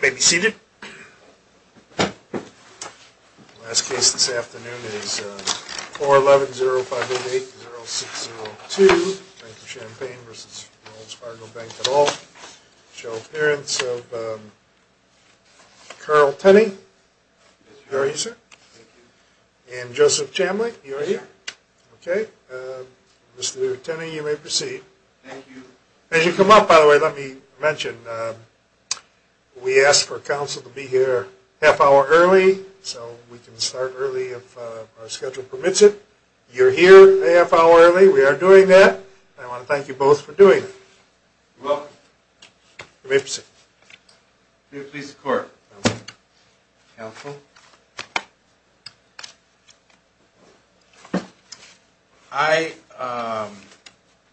May be seated Last case this afternoon is 411-0588-0602 Bank of Champaign vs. Wells Fargo Bank at all show appearance of Carl Tenney How are you sir? And Joseph Chamblee you are here, okay? Mr. Tenney you may proceed As you come up by the way, let me mention We asked for counsel to be here half hour early, so we can start early if our schedule permits it You're here a half hour early. We are doing that. I want to thank you both for doing well may proceed Do you please court? helpful I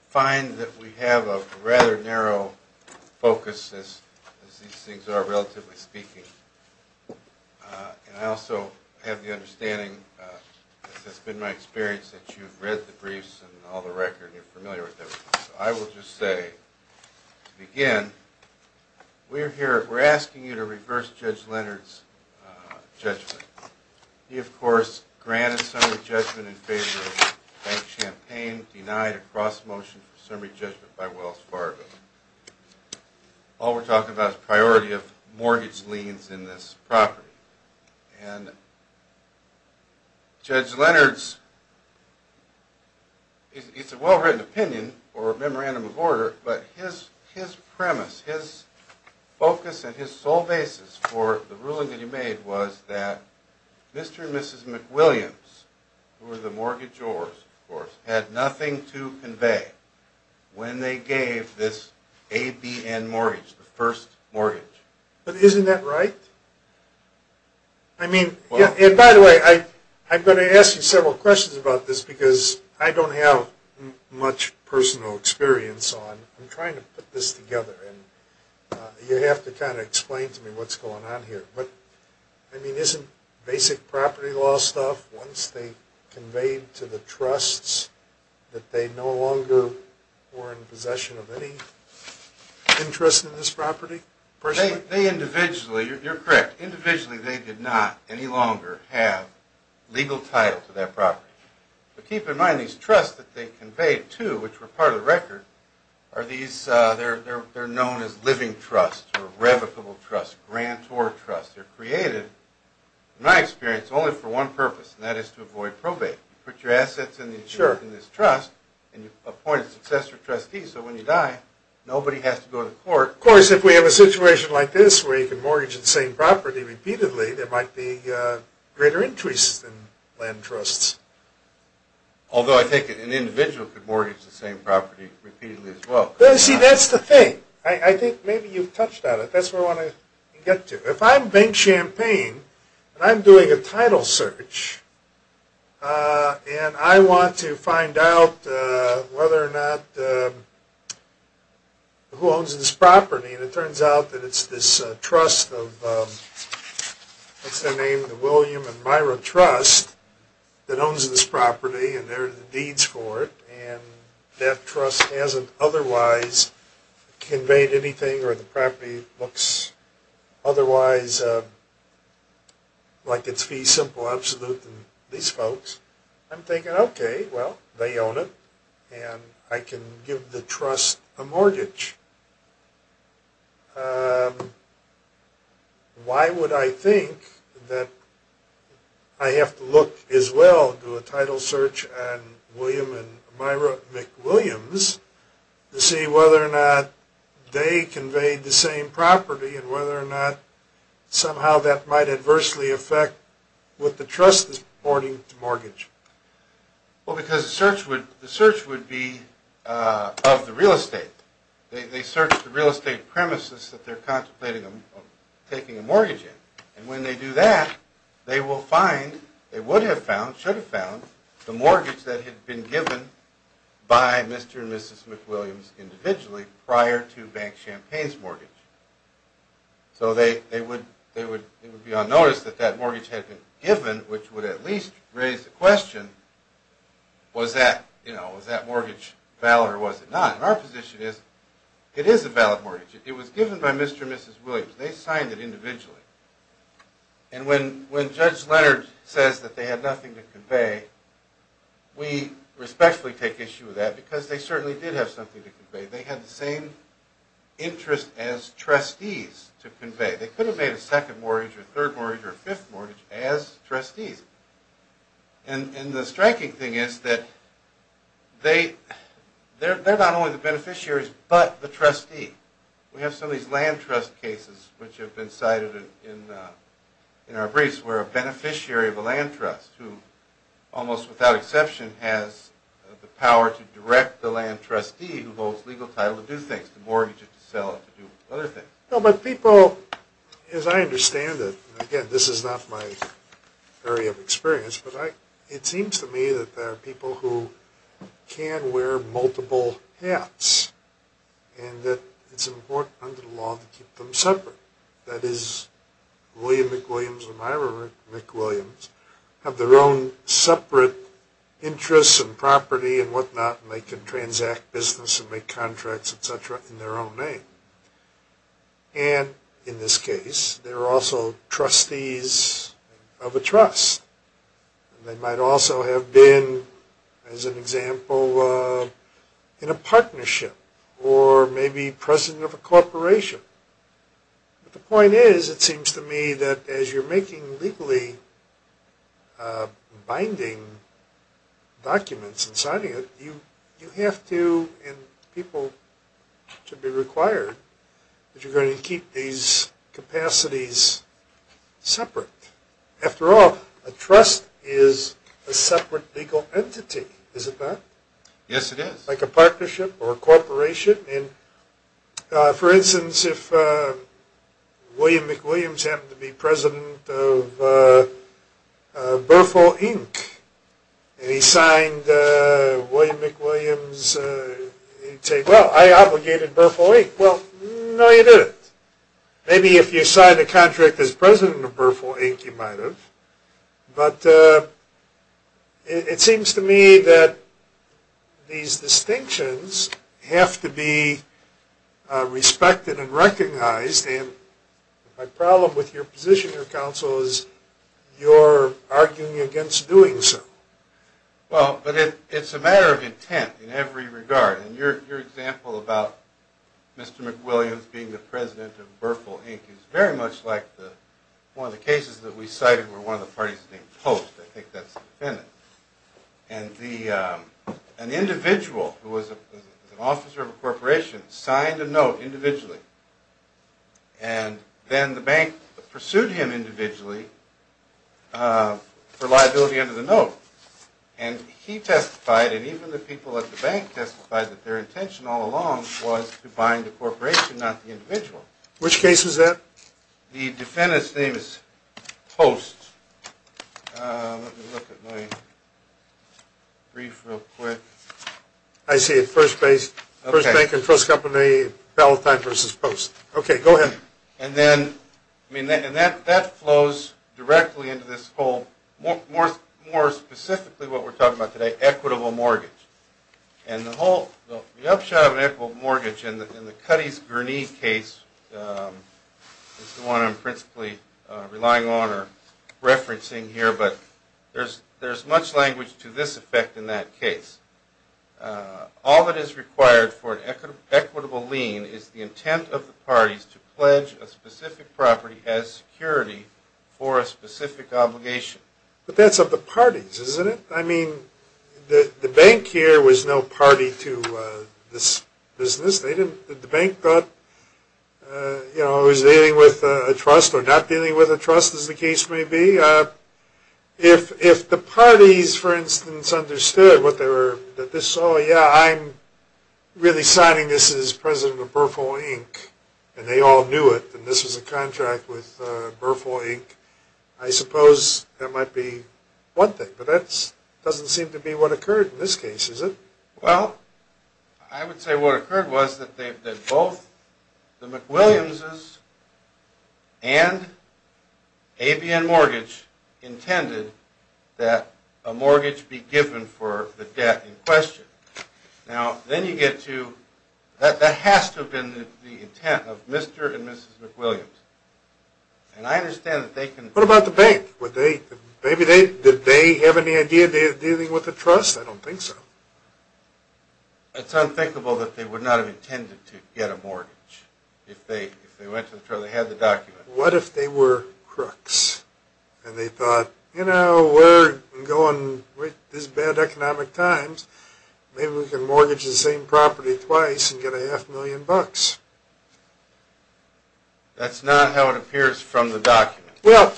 Find that we have a rather narrow focus as These things are relatively speaking And I also have the understanding That's been my experience that you've read the briefs and all the record you're familiar with them. I will just say again We're here. We're asking you to reverse Judge Leonard's Judgment he of course granted some of the judgment in favor Champaign denied a cross-motion summary judgment by Wells Fargo All we're talking about priority of mortgage liens in this property and Judge Leonard's It's a well-written opinion or a memorandum of order, but his his premise his Focus and his sole basis for the ruling that he made was that Mr.. And mrs.. McWilliams The mortgagors of course had nothing to convey When they gave this a B and mortgage the first mortgage, but isn't that right I? Mean yeah, and by the way, I I'm going to ask you several questions about this because I don't have much personal experience on I'm trying to put this together and You have to kind of explain to me. What's going on here, but I mean isn't basic property law stuff once they Conveyed to the trusts that they no longer were in possession of any Interest in this property for they individually you're correct individually. They did not any longer have Legal title to that property, but keep in mind these trusts that they conveyed to which were part of the record are these They're known as living trust or revocable trust grant or trust. They're created My experience only for one purpose and that is to avoid probate put your assets in the insurance in this trust and Appointed successor trustee so when you die nobody has to go to court of course if we have a situation like this where you can Mortgage the same property repeatedly there might be greater interest in land trusts Although I take it an individual could mortgage the same property repeatedly as well. Let's see. That's the thing I think maybe you've touched on it Get to if I'm bank champagne, and I'm doing a title search And I want to find out whether or not Who owns this property and it turns out that it's this trust of What's their name the William and Myra trust? That owns this property, and there are the deeds for it and that trust hasn't otherwise Conveyed anything or the property looks otherwise Like it's fee simple absolute than these folks. I'm thinking okay Well, they own it and I can give the trust a mortgage Why would I think that I Have to look as well do a title search and William and Myra McWilliams To see whether or not they conveyed the same property and whether or not Somehow that might adversely affect What the trust is boarding mortgage? Well because the search would the search would be Of the real estate they search the real estate premises that they're contemplating them Taking a mortgage in and when they do that they will find it would have found should have found the mortgage that had been given By mr.. And mrs.. McWilliams individually prior to Bank Champagne's mortgage So they they would they would it would be on notice that that mortgage had been given which would at least raise the question Was that you know was that mortgage valid or was it not our position is it is a valid mortgage It was given by mr.. And mrs.. Williams. They signed it individually and When when judge Leonard says that they had nothing to convey We respectfully take issue with that because they certainly did have something to convey they had the same interest as trustees to convey they could have made a second mortgage or third mortgage or fifth mortgage as trustees and and the striking thing is that they They're not only the beneficiaries, but the trustee we have some of these land trust cases which have been cited in In our briefs we're a beneficiary of a land trust who almost without exception has The power to direct the land trustee who holds legal title to do things to mortgage it to sell it to do other things No, but people as I understand it again. This is not my Area of experience, but I it seems to me that there are people who? can wear multiple hats and That it's important under the law to keep them separate that is William McWilliams and Ira McWilliams Have their own separate Interests and property and whatnot and they can transact business and make contracts etc in their own name And in this case they're also trustees of a trust They might also have been as an example in a partnership or maybe president of a corporation But the point is it seems to me that as you're making legally Binding Documents and signing it you you have to and people Should be required That you're going to keep these capacities Separate after all a trust is a separate legal entity is it that yes it is like a partnership or a corporation and For instance if William McWilliams happened to be president of Bertholdt Inc and he signed William McWilliams Say well, I obligated Bertholdt Inc. Well. No you do it maybe if you sign a contract as president of Bertholdt Inc. You might have but It seems to me that these distinctions have to be Respected and recognized and my problem with your position your counsel is You're arguing against doing so Well, but it it's a matter of intent in every regard and your example about Mr.. McWilliams being the president of Bertholdt Inc. It's very much like the one of the cases that we cited were one of the parties named post. I think that's the defendant and An individual who was an officer of a corporation signed a note individually and Then the bank pursued him individually For liability under the note and He testified and even the people at the bank testified that their intention all along was to bind the corporation not the individual Which case is that? The defendant's name is post I See it first base first bank and trust company Valentine versus post okay, go ahead and then I mean that and that that flows directly into this whole more more more specifically what we're talking about today equitable mortgage and The whole the upshot of an equitable mortgage in the in the Cuddy's Gurney case Is the one I'm principally relying on or? Referencing here, but there's there's much language to this effect in that case all that is required for an Equitable lien is the intent of the parties to pledge a specific property as security for a specific obligation But that's of the parties isn't it I mean The the bank here was no party to this business. They didn't the bank thought You know who's dealing with a trust or not dealing with a trust as the case may be if if the parties for instance understood what they were that this oh, yeah, I'm Really signing this is president of Berthold Inc. And they all knew it and this was a contract with Berthold Inc. I suppose that might be one thing, but that's doesn't seem to be what occurred in this case is it well I? Would say what occurred was that they did both? the McWilliams's and ABN mortgage Intended that a mortgage be given for the debt in question now Then you get to that that has to have been the intent of mr.. And mrs.. McWilliams And I understand that they can what about the bank would they maybe they did they have any idea they're dealing with the trust I don't think so It's unthinkable that they would not have intended to get a mortgage If they if they went to the trail they had the document what if they were crooks? And they thought you know we're going with this bad economic times Maybe we can mortgage the same property twice and get a half million bucks That's not how it appears from the document well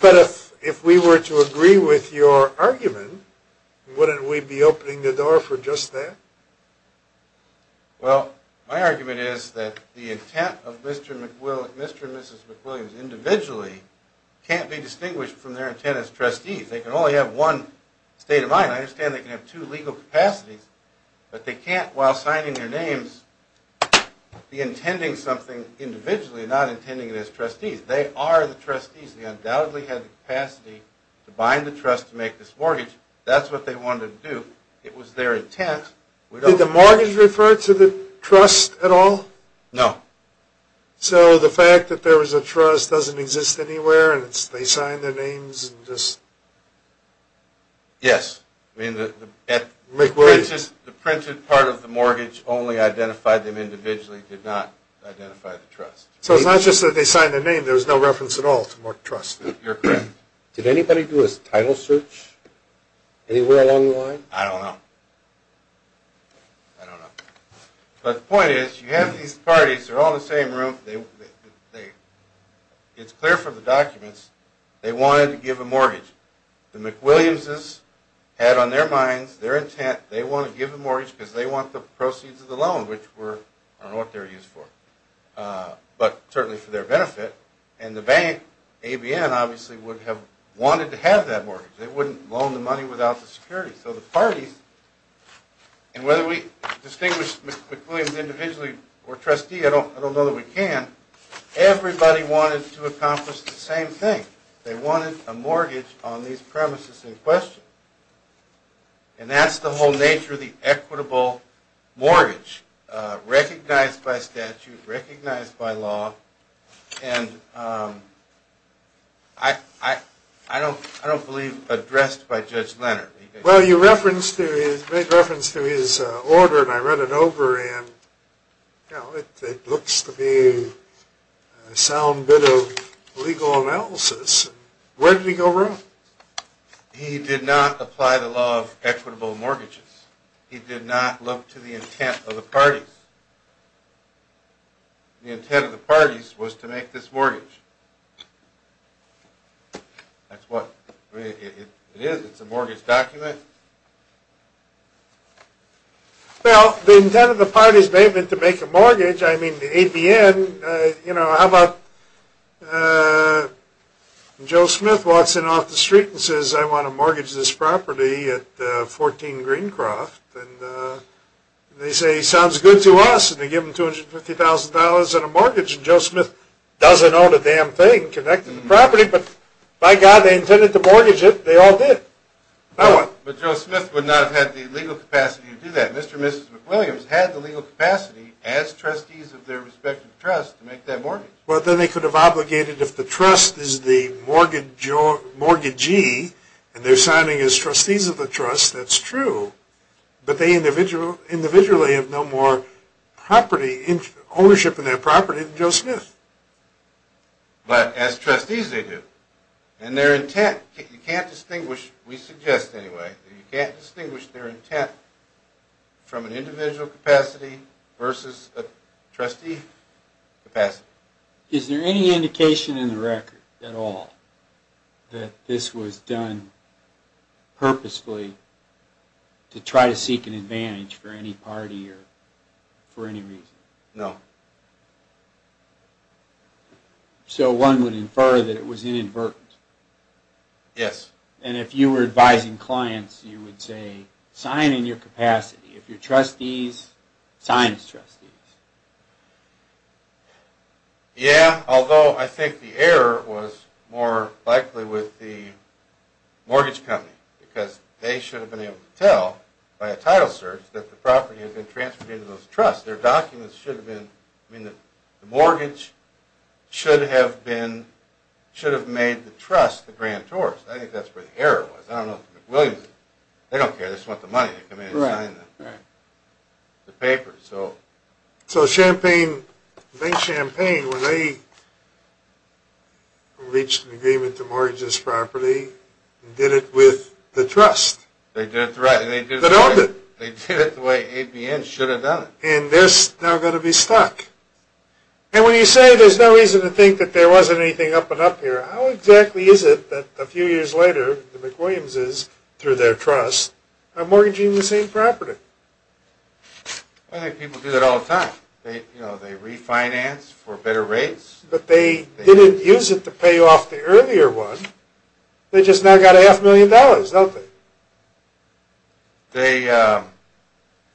But if if we were to agree with your argument Wouldn't we be opening the door for just that? Well my argument is that the intent of mr.. McWilliams mr.. Mrs.. McWilliams individually Can't be distinguished from their intent as trustees. They can only have one state of mind I understand they can have two legal capacities, but they can't while signing their names Be intending something individually not intending it as trustees. They are the trustees They undoubtedly had the capacity to bind the trust to make this mortgage. That's what they wanted to do We don't the mortgage referred to the trust at all no So the fact that there was a trust doesn't exist anywhere, and it's they signed their names and just Yes McWilliams is the printed part of the mortgage only identified them individually did not So it's not just that they signed the name. There's no reference at all to mark trust. You're correct. Did anybody do a title search? Anywhere along the line, I don't know But the point is you have these parties are all the same room they It's clear from the documents They wanted to give a mortgage the McWilliams's had on their minds their intent They want to give the mortgage because they want the proceeds of the loan which were on what they're used for But certainly for their benefit and the bank ABN obviously would have wanted to have that mortgage they wouldn't loan the money without the security so the parties And whether we distinguish McWilliams individually or trustee. I don't I don't know that we can Everybody wanted to accomplish the same thing they wanted a mortgage on these premises in question And that's the whole nature of the equitable mortgage recognized by statute recognized by law and I Don't I don't believe addressed by Judge Leonard. Well you reference to his big reference to his order, and I read it over and No, it looks to be a sound bit of legal analysis Where did he go wrong? He did not apply the law of equitable mortgages. He did not look to the intent of the party The intent of the parties was to make this mortgage That's what it is it's a mortgage document Well the intent of the parties David to make a mortgage, I mean the ABN you know how about Joe Smith walks in off the street and says I want to mortgage this property at 14 Greencroft and They say sounds good to us, and they give him $250,000 and a mortgage and Joe Smith doesn't own a damn thing connecting the property, but by God they intended to mortgage it They all did No, but Joe Smith would not have had the legal capacity to do that mr. Mrs.. McWilliams had the legal capacity as trustees of their respective trust to make that morning Well, then they could have obligated if the trust is the mortgage or mortgagee And they're signing as trustees of the trust that's true But they individual individually have no more Property ownership in their property than Joe Smith But as trustees they do and their intent you can't distinguish. We suggest anyway. You can't distinguish their intent from an individual capacity versus a trustee Capacity is there any indication in the record at all? That this was done purposefully To try to seek an advantage for any party or for any reason no So one would infer that it was inadvertent Yes, and if you were advising clients you would say sign in your capacity if your trustees signs trust Yeah, although I think the error was more likely with the Tell by a title search that the property has been transferred into those trust their documents should have been I mean the mortgage Should have been Should have made the trust the grand tours. I think that's where the error was I don't know They don't care. This is what the money The papers so so champagne make champagne when they Reached an agreement to mortgage this property did it with the trust They did it the way ABN should have done it, and they're now going to be stuck And when you say there's no reason to think that there wasn't anything up and up here How exactly is it that a few years later the McWilliams is through their trust a mortgaging the same property I? Think people do that all the time They you know they refinance for better rates, but they didn't use it to pay off the earlier one They just now got a half million dollars don't they? they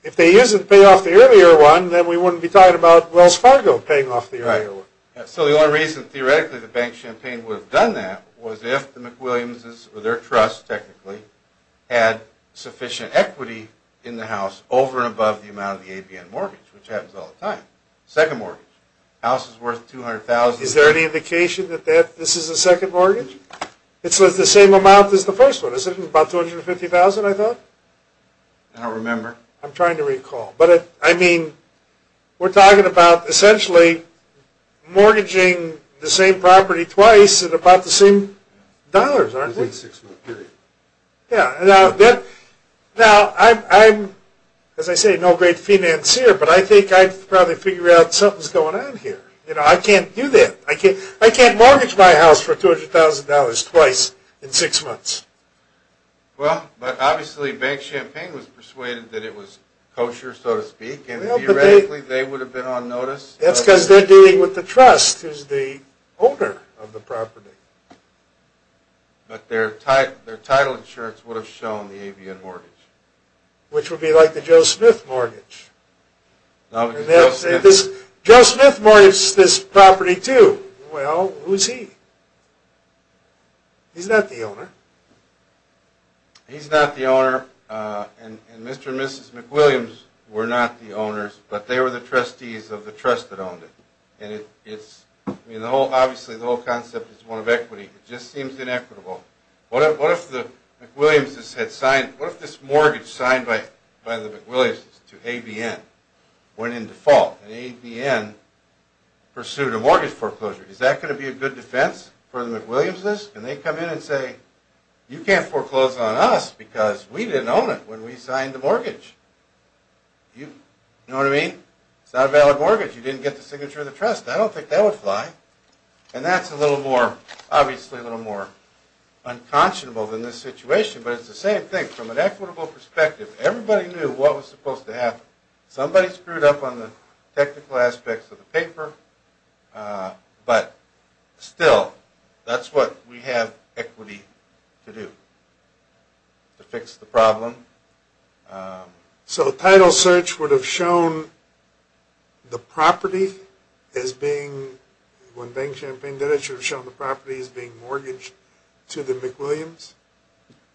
If they use it to pay off the earlier one, then we wouldn't be talking about Wells Fargo paying off the area So the only reason theoretically the bank champagne would have done that was if the McWilliams is their trust technically had Sufficient equity in the house over and above the amount of the ABN mortgage, which happens all the time second mortgage house is worth 200,000 is there any indication that that this is a second mortgage It's worth the same amount as the first one is it about 250,000 I thought I don't remember. I'm trying to recall, but it I mean We're talking about essentially Mortgaging the same property twice and about the same dollars Now I'm as I say no great financier, but I think I'd probably figure out something's going on here I can't do that. I can't I can't mortgage my house for $200,000 twice in six months Well, but obviously Bank Champagne was persuaded that it was kosher so to speak and theoretically they would have been on notice That's because they're dealing with the trust is the owner of the property But their type their title insurance would have shown the ABN mortgage, which would be like the Joe Smith mortgage Now they'll say this Joseph Morris this property to well, who's he? He's not the owner He's not the owner And mr. Mrs. McWilliams were not the owners, but they were the trustees of the trust that owned it and it it's You know obviously the whole concept is one of equity. It just seems inequitable What if the Williams had signed what if this mortgage signed by by the McWilliams to ABN went in default and ABN Pursued a mortgage foreclosure is that going to be a good defense for the McWilliams this and they come in and say You can't foreclose on us because we didn't own it when we signed the mortgage You know what I mean, it's not a valid mortgage. You didn't get the signature of the trust I don't think that would fly and that's a little more obviously a little more Unconscionable than this situation, but it's the same thing from an equitable perspective Everybody knew what was supposed to happen somebody screwed up on the technical aspects of the paper But still that's what we have equity to do to fix the problem So the title search would have shown The property as being When bank champagne did it should have shown the property is being mortgaged to the McWilliams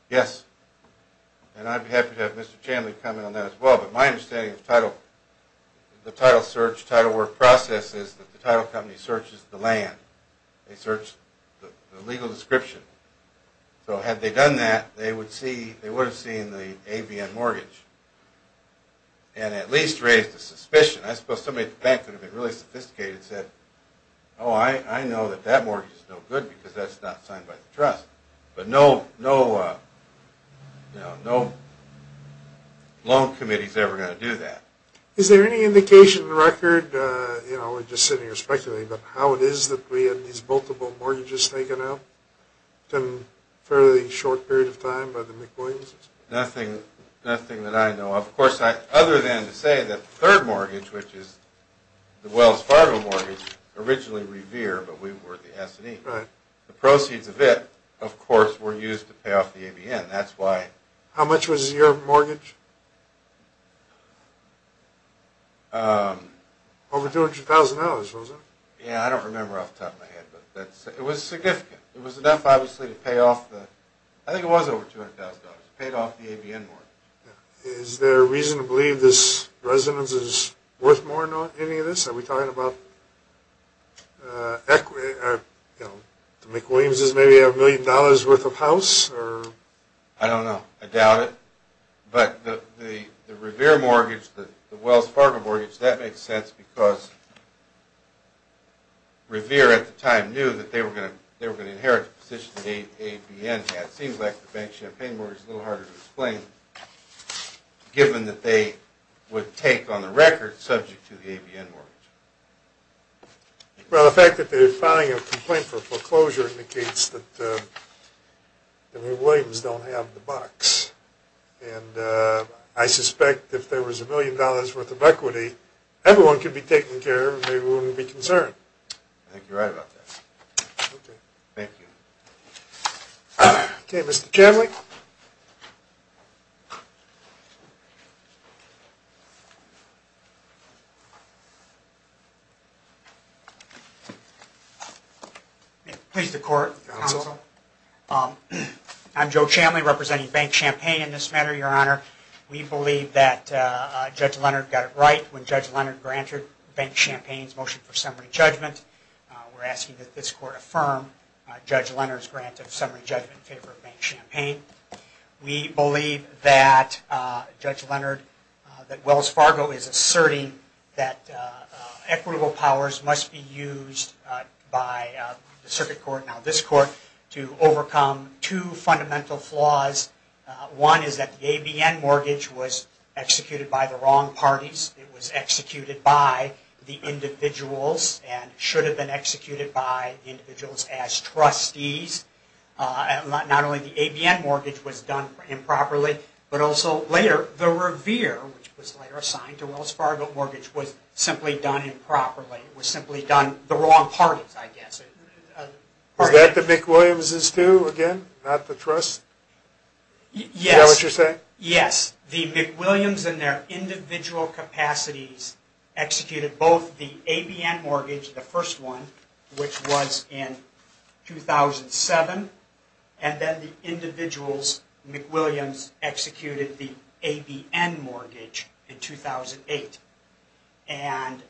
Yes And I'd be happy to have mr. Chandler comment on that as well, but my understanding of title The title search title work process is that the title company searches the land they search the legal description So had they done that they would see they would have seen the ABN mortgage And at least raised a suspicion I suppose somebody back could have been really sophisticated said oh I I know that that mortgage is no good because that's not signed by the trust, but no no No, no Loan committees ever going to do that is there any indication record? You know we're just sitting here speculating, but how it is that we had these multiple mortgages taken out Fairly short period of time by the McWilliams nothing nothing that I know of course I other than to say that third mortgage, which is the Wells Fargo mortgage Originally Revere, but we were the S&E right the proceeds of it of course were used to pay off the ABN That's why how much was your mortgage? Over $200,000 yeah, I don't remember off the top of my head, but it was significant. It was enough Obviously to pay off the I think it was over $200,000 paid off the ABN Is there a reason to believe this residence is worth more not any of this are we talking about? Equity The McWilliams is maybe a million dollars worth of house, or I don't know I doubt it but the the Revere mortgage that the Wells Fargo mortgage that makes sense because Revere at the time knew that they were going to they were going to inherit the position the ABN Yeah, it seems like the bank champagne where it's a little harder to explain Given that they would take on the record subject to the ABN mortgage Well the fact that they're filing a complaint for foreclosure indicates that the McWilliams don't have the bucks and I suspect if there was a million dollars worth of equity Everyone could be taken care of they wouldn't be concerned. I think you're right about this Thank you Okay, mr.. Chamblee Please the court I'm Joe Chamblee representing bank champagne in this matter your honor. We believe that Judge Leonard got it right when judge Leonard granted bank champagne's motion for summary judgment We're asking that this court affirm judge Leonard's grant of summary judgment favor of bank champagne we believe that Judge Leonard that Wells Fargo is asserting that Equitable powers must be used by the circuit court now this court to overcome two fundamental flaws One is that the ABN mortgage was executed by the wrong parties It was executed by the individuals and should have been executed by individuals as trustees Not only the ABN mortgage was done for him properly But also later the Revere which was later assigned to Wells Fargo mortgage was simply done in properly was simply done the wrong parties I guess That the McWilliams is to again not the trust Yeah, what you're saying? Yes the McWilliams and their individual capacities Executed both the ABN mortgage the first one which was in 2007 and then the individuals McWilliams executed the ABN mortgage in 2008 and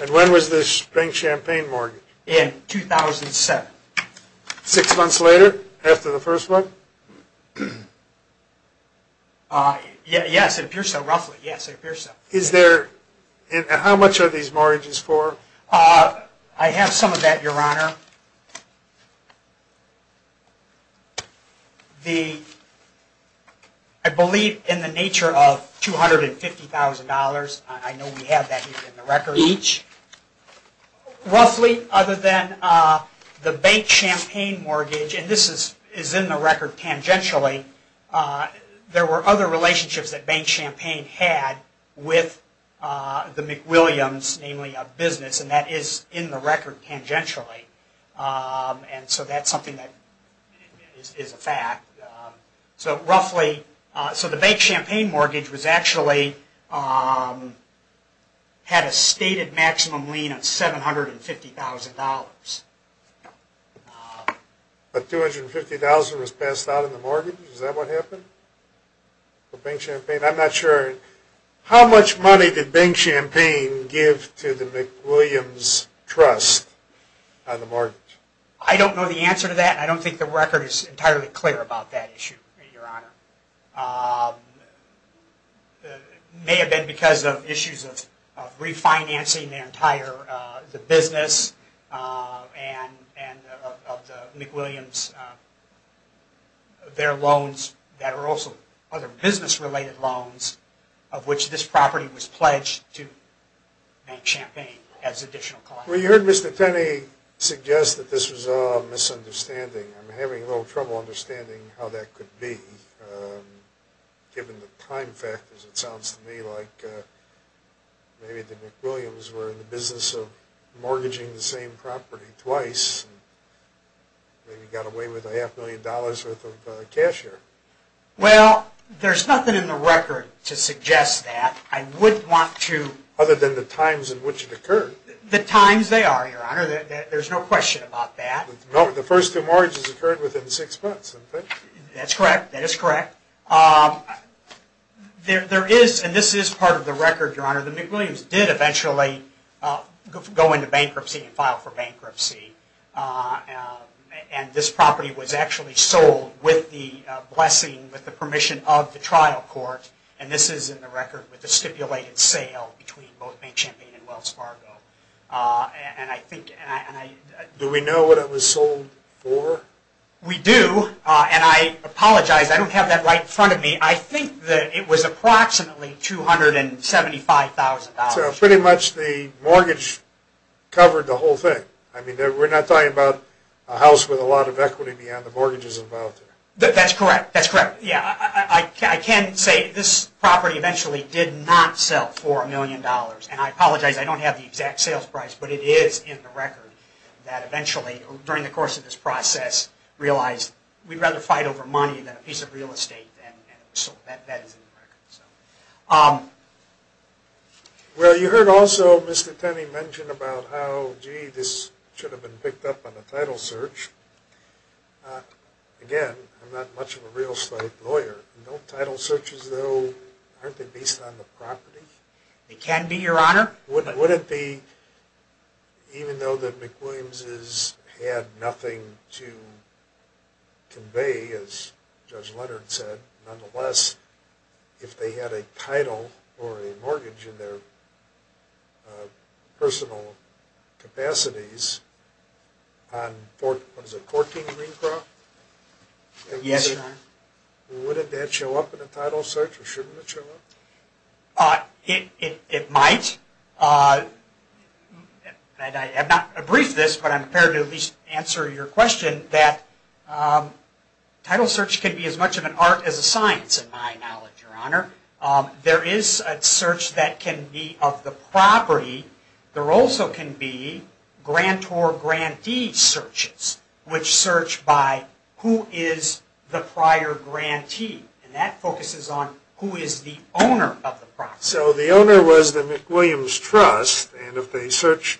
And when was this spring champagne Morgan in 2007 Six months later after the first one Yeah, yes, if you're so roughly yes, if you're so is there and how much are these mortgages for I have some of that your honor The I Believe in the nature of two hundred and fifty thousand dollars. I know we have that in the record each Roughly other than the bank champagne mortgage, and this is is in the record tangentially there were other relationships that bank champagne had with The McWilliams namely a business and that is in the record tangentially And so that's something that Is a fact so roughly so the bank champagne mortgage was actually Had a stated maximum lien of seven hundred and fifty thousand dollars But 250,000 was passed out in the mortgage is that what happened For bank champagne, I'm not sure How much money did bank champagne give to the McWilliams? Trust on the mortgage. I don't know the answer to that. I don't think the record is entirely clear about that issue Your honor May have been because of issues of refinancing their entire the business and Williams Their loans that are also other business related loans of which this property was pledged to Make champagne as additional. Well you heard mr. Suggests that this was a misunderstanding. I'm having a little trouble understanding how that could be Given the time factors it sounds to me like Maybe the McWilliams were in the business of mortgaging the same property twice Then you got away with a half million dollars worth of cash here Well, there's nothing in the record to suggest that I would want to other than the times in which it occurred The times they are your honor that there's no question about that. No the first two mortgages occurred within six months That's correct. That is correct There there is and this is part of the record your honor the McWilliams did eventually Go into bankruptcy and file for bankruptcy And this property was actually sold with the Blessing with the permission of the trial court and this is in the record with the stipulated sale between both main champion and Wells Fargo and I think Do we know what it was sold for? We do and I apologize. I don't have that right in front of me. I think that it was approximately 275,000 pretty much the mortgage Covered the whole thing I mean there We're not talking about a house with a lot of equity beyond the mortgages involved that that's correct. That's correct Yeah, I can't say this property eventually did not sell for a million dollars, and I apologize I don't have the exact sales price, but it is in the record that eventually during the course of this process Realized we'd rather fight over money than a piece of real estate Well you heard also mr.. Tenney mentioned about how gee this should have been picked up on the title search Again I'm not much of a real estate lawyer. No title searches though Based on the property it can be your honor. What would it be? even though that McWilliams's had nothing to Convey as judge Leonard said nonetheless if they had a title or a mortgage in their Personal capacities On fourth was a 14 crop Yes What did that show up in the title search or shouldn't it show up it it might And I have not a brief this, but I'm prepared to at least answer your question that Title search can be as much of an art as a science in my knowledge your honor There is a search that can be of the property there also can be Grantor grantee searches which search by who is the prior? Grantee and that focuses on who is the owner of the process so the owner was the McWilliams trust and if they search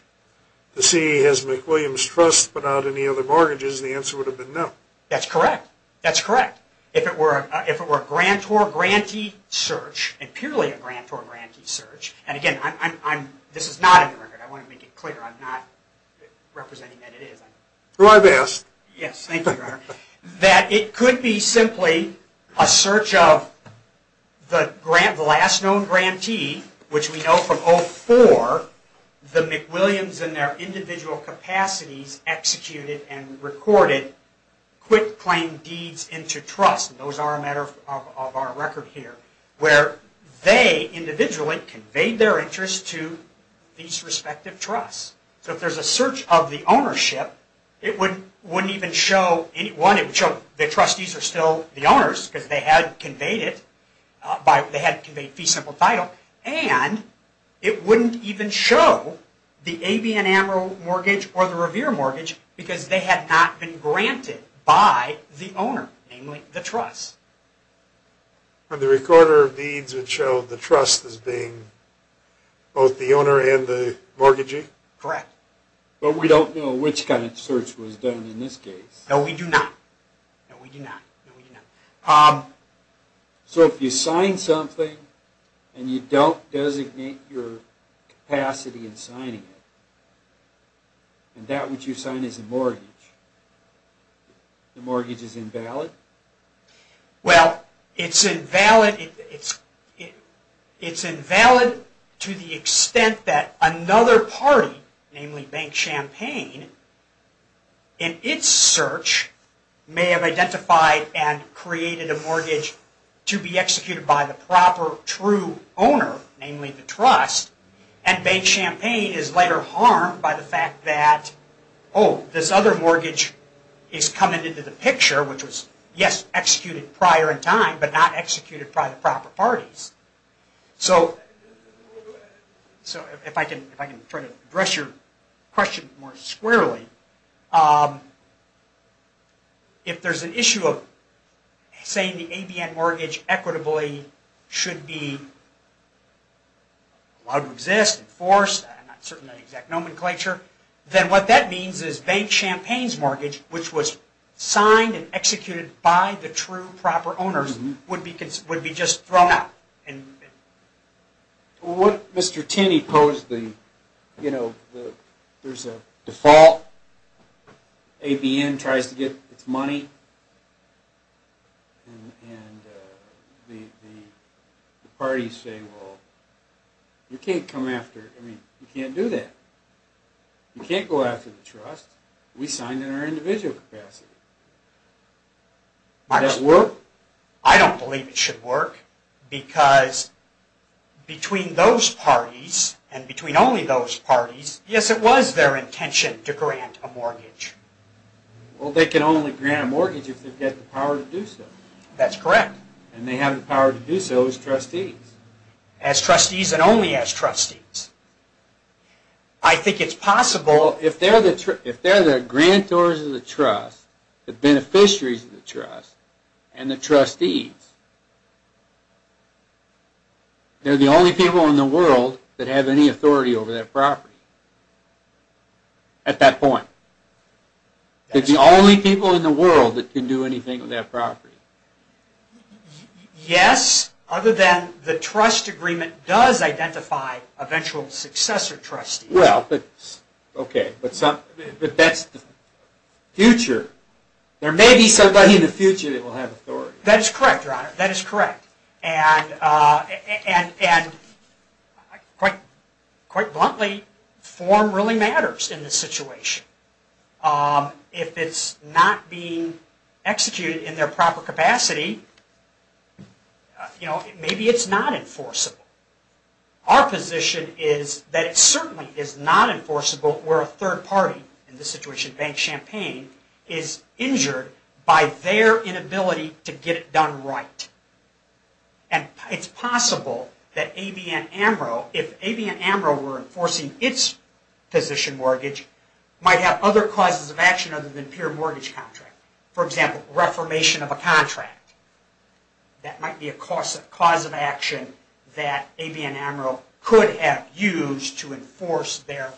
The CE has McWilliams trust, but not any other mortgages the answer would have been no that's correct That's correct if it were if it were a grant or grantee search and purely a grant or grantee search and again I'm this is not Representing that it is who I've asked yes that it could be simply a search of The grant last known grantee which we know from all for the McWilliams and their individual capacities executed and recorded Quit playing deeds into trust those are a matter of our record here where they? Individually conveyed their interest to these respective trusts, so if there's a search of the ownership It wouldn't wouldn't even show any one it would show the trustees are still the owners because they had conveyed it by they had conveyed fee simple title and It wouldn't even show the avian amiral mortgage or the revere mortgage because they had not been granted by the owner namely the trust And the recorder of deeds would show the trust as being Both the owner and the mortgaging correct, but we don't know which kind of search was done in this case. No we do not So if you sign something and you don't designate your capacity in signing it And that which you sign is a mortgage The mortgage is invalid Well, it's invalid it's It's invalid to the extent that another party namely bank champagne in its search May have identified and created a mortgage to be executed by the proper true owner Namely the trust and bank champagne is later harmed by the fact that oh This other mortgage is coming into the picture, which was yes executed prior in time, but not executed by the proper parties so So if I can if I can try to address your question more squarely If there's an issue of saying the avian mortgage equitably should be Allowed to exist in force Nomenclature then what that means is bank champagnes mortgage Which was signed and executed by the true proper owners would because would be just thrown out and What mr.. Tinney posed the you know there's a default ABN tries to get its money The parties say well You can't come after I mean you can't do that You can't go after the trust we signed in our individual capacity My work, I don't believe it should work because Between those parties and between only those parties yes, it was their intention to grant a mortgage Well, they can only grant a mortgage if they've got the power to do so that's correct And they have the power to do so as trustees as trustees and only as trustees I Think it's possible if they're the trip if they're the grantors of the trust the beneficiaries of the trust and the trustees They're the only people in the world that have any authority over that property At that point It's the only people in the world that can do anything with that property Yes other than the trust agreement does identify eventual successor trustee well, but Okay, but some but that's the Future there may be somebody in the future. They will have authority that is correct. That is correct and and and Quite quite bluntly form really matters in this situation If it's not being executed in their proper capacity You know maybe it's not enforceable Our position is that it certainly is not enforceable where a third party in this situation Bank Champagne is injured by their inability to get it done, right and It's possible that a BN Amaro if a BN Amaro were enforcing its Position mortgage might have other causes of action other than pure mortgage contract for example reformation of a contract That might be a cause of cause of action that a BN Amaro could have used to enforce their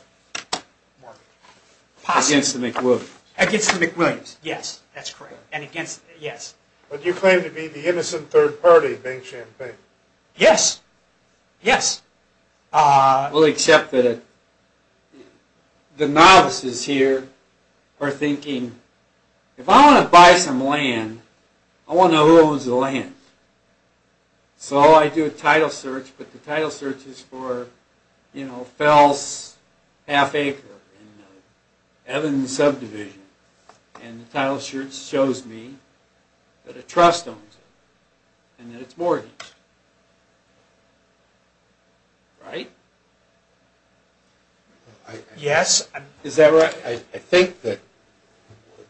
Possibly quote against the McWilliams yes, that's correct and against yes, but you claim to be the innocent third party Bank Champagne Yes Yes We'll accept that The novices here are thinking if I want to buy some land I want to lose the land So I do a title search, but the title search is for you know fells half acre Evan subdivision and the title shirts shows me that a trust owns it and that it's mortgage Right Yes, is that right I think that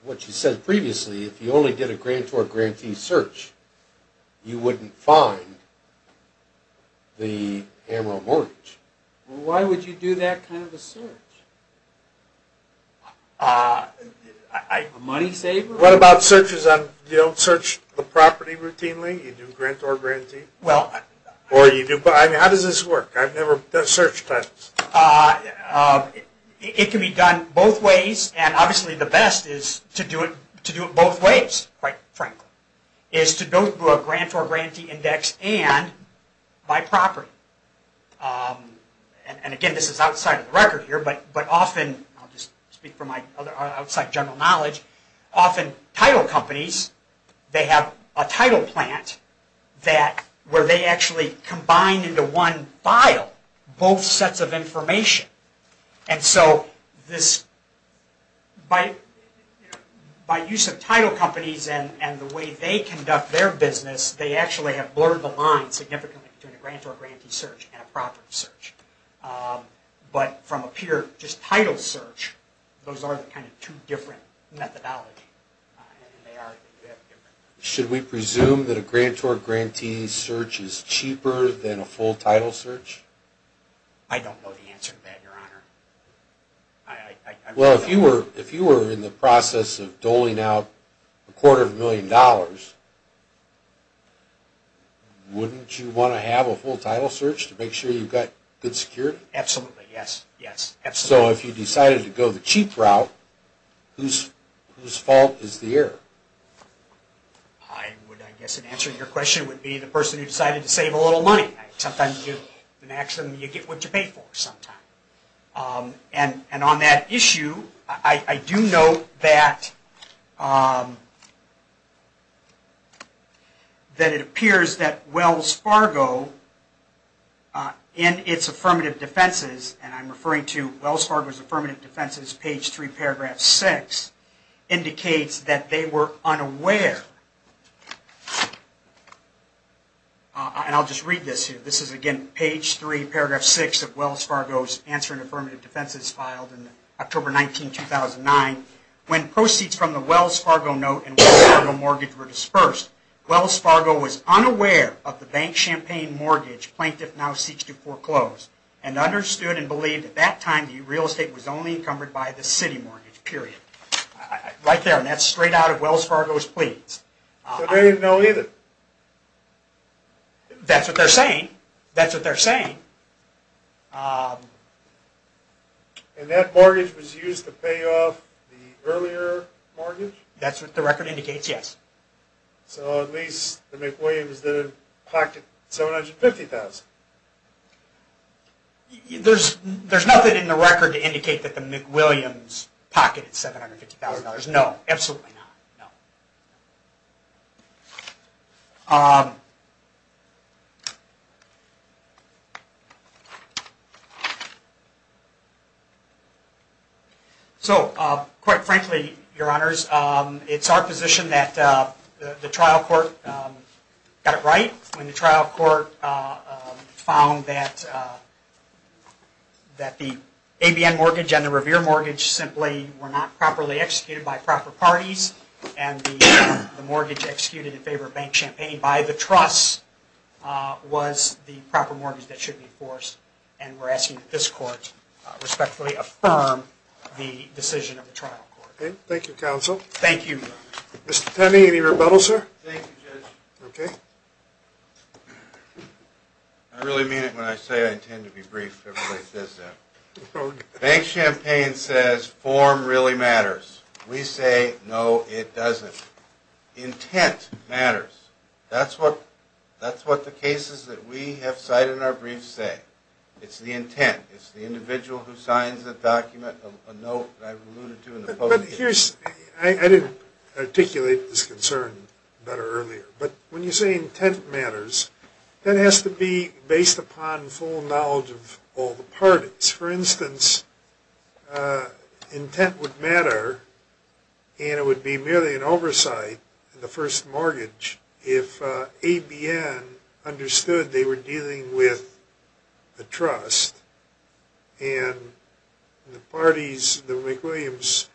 What you said previously if you only get a grant or grantee search? You wouldn't find The Amaro mortgage, why would you do that kind of a search? I Money save what about searches on you don't search the property routinely you do grant or grantee well Or you do, but I mean how does this work? I've never searched that It can be done both ways and obviously the best is to do it to do it both ways right Frank is to go through a grant or grantee index and by property And again, this is outside of the record here, but but often I'll just speak for my other outside general knowledge often title companies They have a title plant that where they actually combine into one file both sets of information and so this by By use of title companies and and the way they conduct their business They actually have blurred the line significantly to the grant or grantee search and a property search But from a pure just title search those are the kind of two different methodology Should we presume that a grant or grantee search is cheaper than a full title search I Don't know the answer to that your honor Well if you were if you were in the process of doling out a quarter of a million dollars Wouldn't you want to have a full title search to make sure you've got good security absolutely yes, yes, so if you decided to go the cheap route Whose whose fault is the error I? Would I guess an answer to your question would be the person who decided to save a little money sometimes you Action you get what you pay for sometime And and on that issue, I I do know that That it appears that Wells Fargo In its affirmative defenses, and I'm referring to Wells Fargo's affirmative defenses page 3 paragraph 6 Indicates that they were unaware And I'll just read this here This is again page 3 paragraph 6 of Wells Fargo's answer and affirmative defenses filed in October 19 2009 When proceeds from the Wells Fargo note and a mortgage were dispersed Wells Fargo was unaware of the bank champagne mortgage plaintiff now seeks to foreclose and Understood and believed at that time the real estate was only encumbered by the city mortgage period Right there, and that's straight out of Wells Fargo's please they know either That's what they're saying that's what they're saying And that mortgage was used to pay off the earlier That's what the record indicates. Yes So at least the McWilliams the pocket 750,000 You there's there's nothing in the record to indicate that the McWilliams pocketed $750,000 no absolutely So quite frankly your honors, it's our position that the trial court Got it right when the trial court Found that That the ABN mortgage and the Revere mortgage simply were not properly executed by proper parties and The mortgage executed in favor of bank champagne by the trust Was the proper mortgage that should be enforced and we're asking that this court Respectfully affirm the decision of the trial court. Thank you counsel. Thank you. Mr.. Penny any rebuttal sir Okay I really mean it when I say I intend to be brief Bank champagne says form really matters we say no it doesn't Intent matters, that's what that's what the cases that we have cited in our briefs say it's the intent It's the individual who signs the document Here's I didn't articulate this concern better earlier, but when you say intent matters That has to be based upon full knowledge of all the parties for instance Intent would matter And it would be merely an oversight the first mortgage if ABN understood they were dealing with the trust and The parties the McWilliams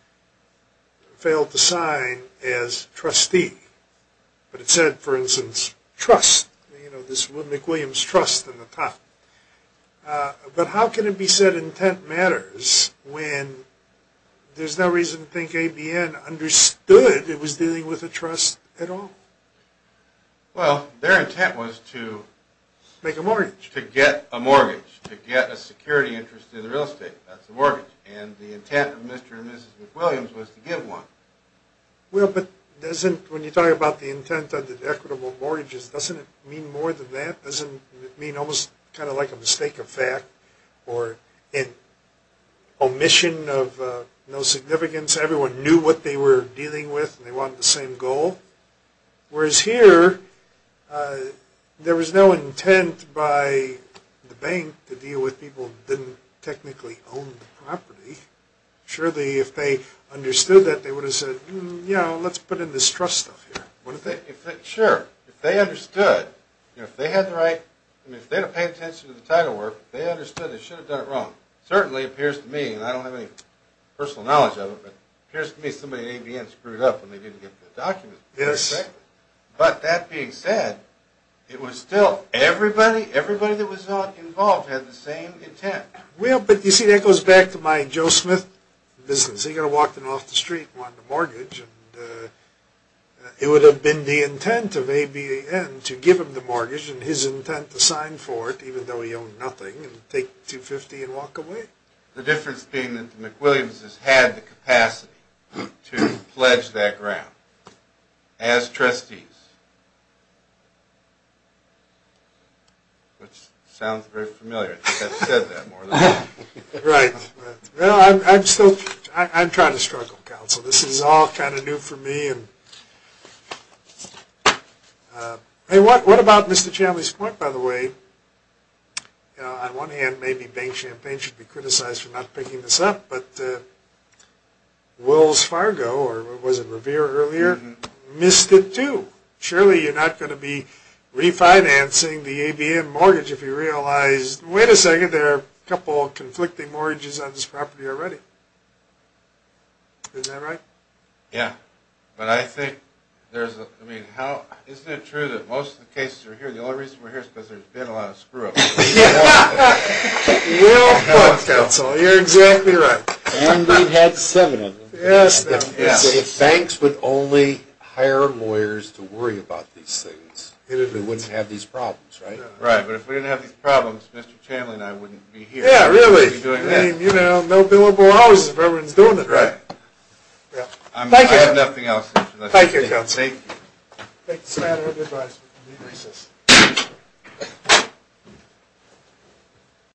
failed to sign as trustee But it said for instance trust you know this would McWilliams trust in the top But how can it be said intent matters when? There's no reason to think ABN understood. It was dealing with a trust at all well their intent was to Make a mortgage to get a mortgage to get a security interest in the real estate That's the mortgage and the intent of mr.. And mrs.. McWilliams was to give one But doesn't when you talk about the intent of the equitable mortgages doesn't it mean more than that doesn't mean almost kind of like a mistake of fact or in Omission of no significance everyone knew what they were dealing with and they wanted the same goal whereas here There was no intent by The bank to deal with people didn't technically own the property Surely if they understood that they would have said you know let's put in this trust Sure, they understood if they had the right Title work they understood it should have done it wrong certainly appears to me And I don't have any personal knowledge of it appears to me somebody ABN screwed up, and they didn't get the document yes But that being said it was still everybody everybody that was not involved had the same intent Well, but you see that goes back to my Joe Smith business. They're gonna walk them off the street on the mortgage It would have been the intent of a BN to give him the mortgage and his intent to sign for it even though he owned Nothing and take 250 and walk away the difference being that the McWilliams has had the capacity to pledge that ground as trustees Which Sounds very familiar Right well, I'm still I'm trying to struggle council. This is all kind of new for me and Hey what what about mr.. Chandler's point by the way on one hand maybe bank champagne should be criticized for not picking this up, but Wills Fargo or was it Revere earlier missed it too surely you're not going to be Refinancing the ABM mortgage if you realize wait a second there a couple of conflicting mortgages on this property already Yeah, but I think there's I mean how is it true that most of the cases are here The only reason we're here is because there's been a lot of screw Yeah You're exactly right Thanks, but only hire lawyers to worry about these things it wouldn't have these problems, right right, but if we didn't have these problems Mr.. Chandler, and I wouldn't be here. Yeah, really doing that you know no billable hours if everyone's doing it, right? Thank you nothing else. Thank you You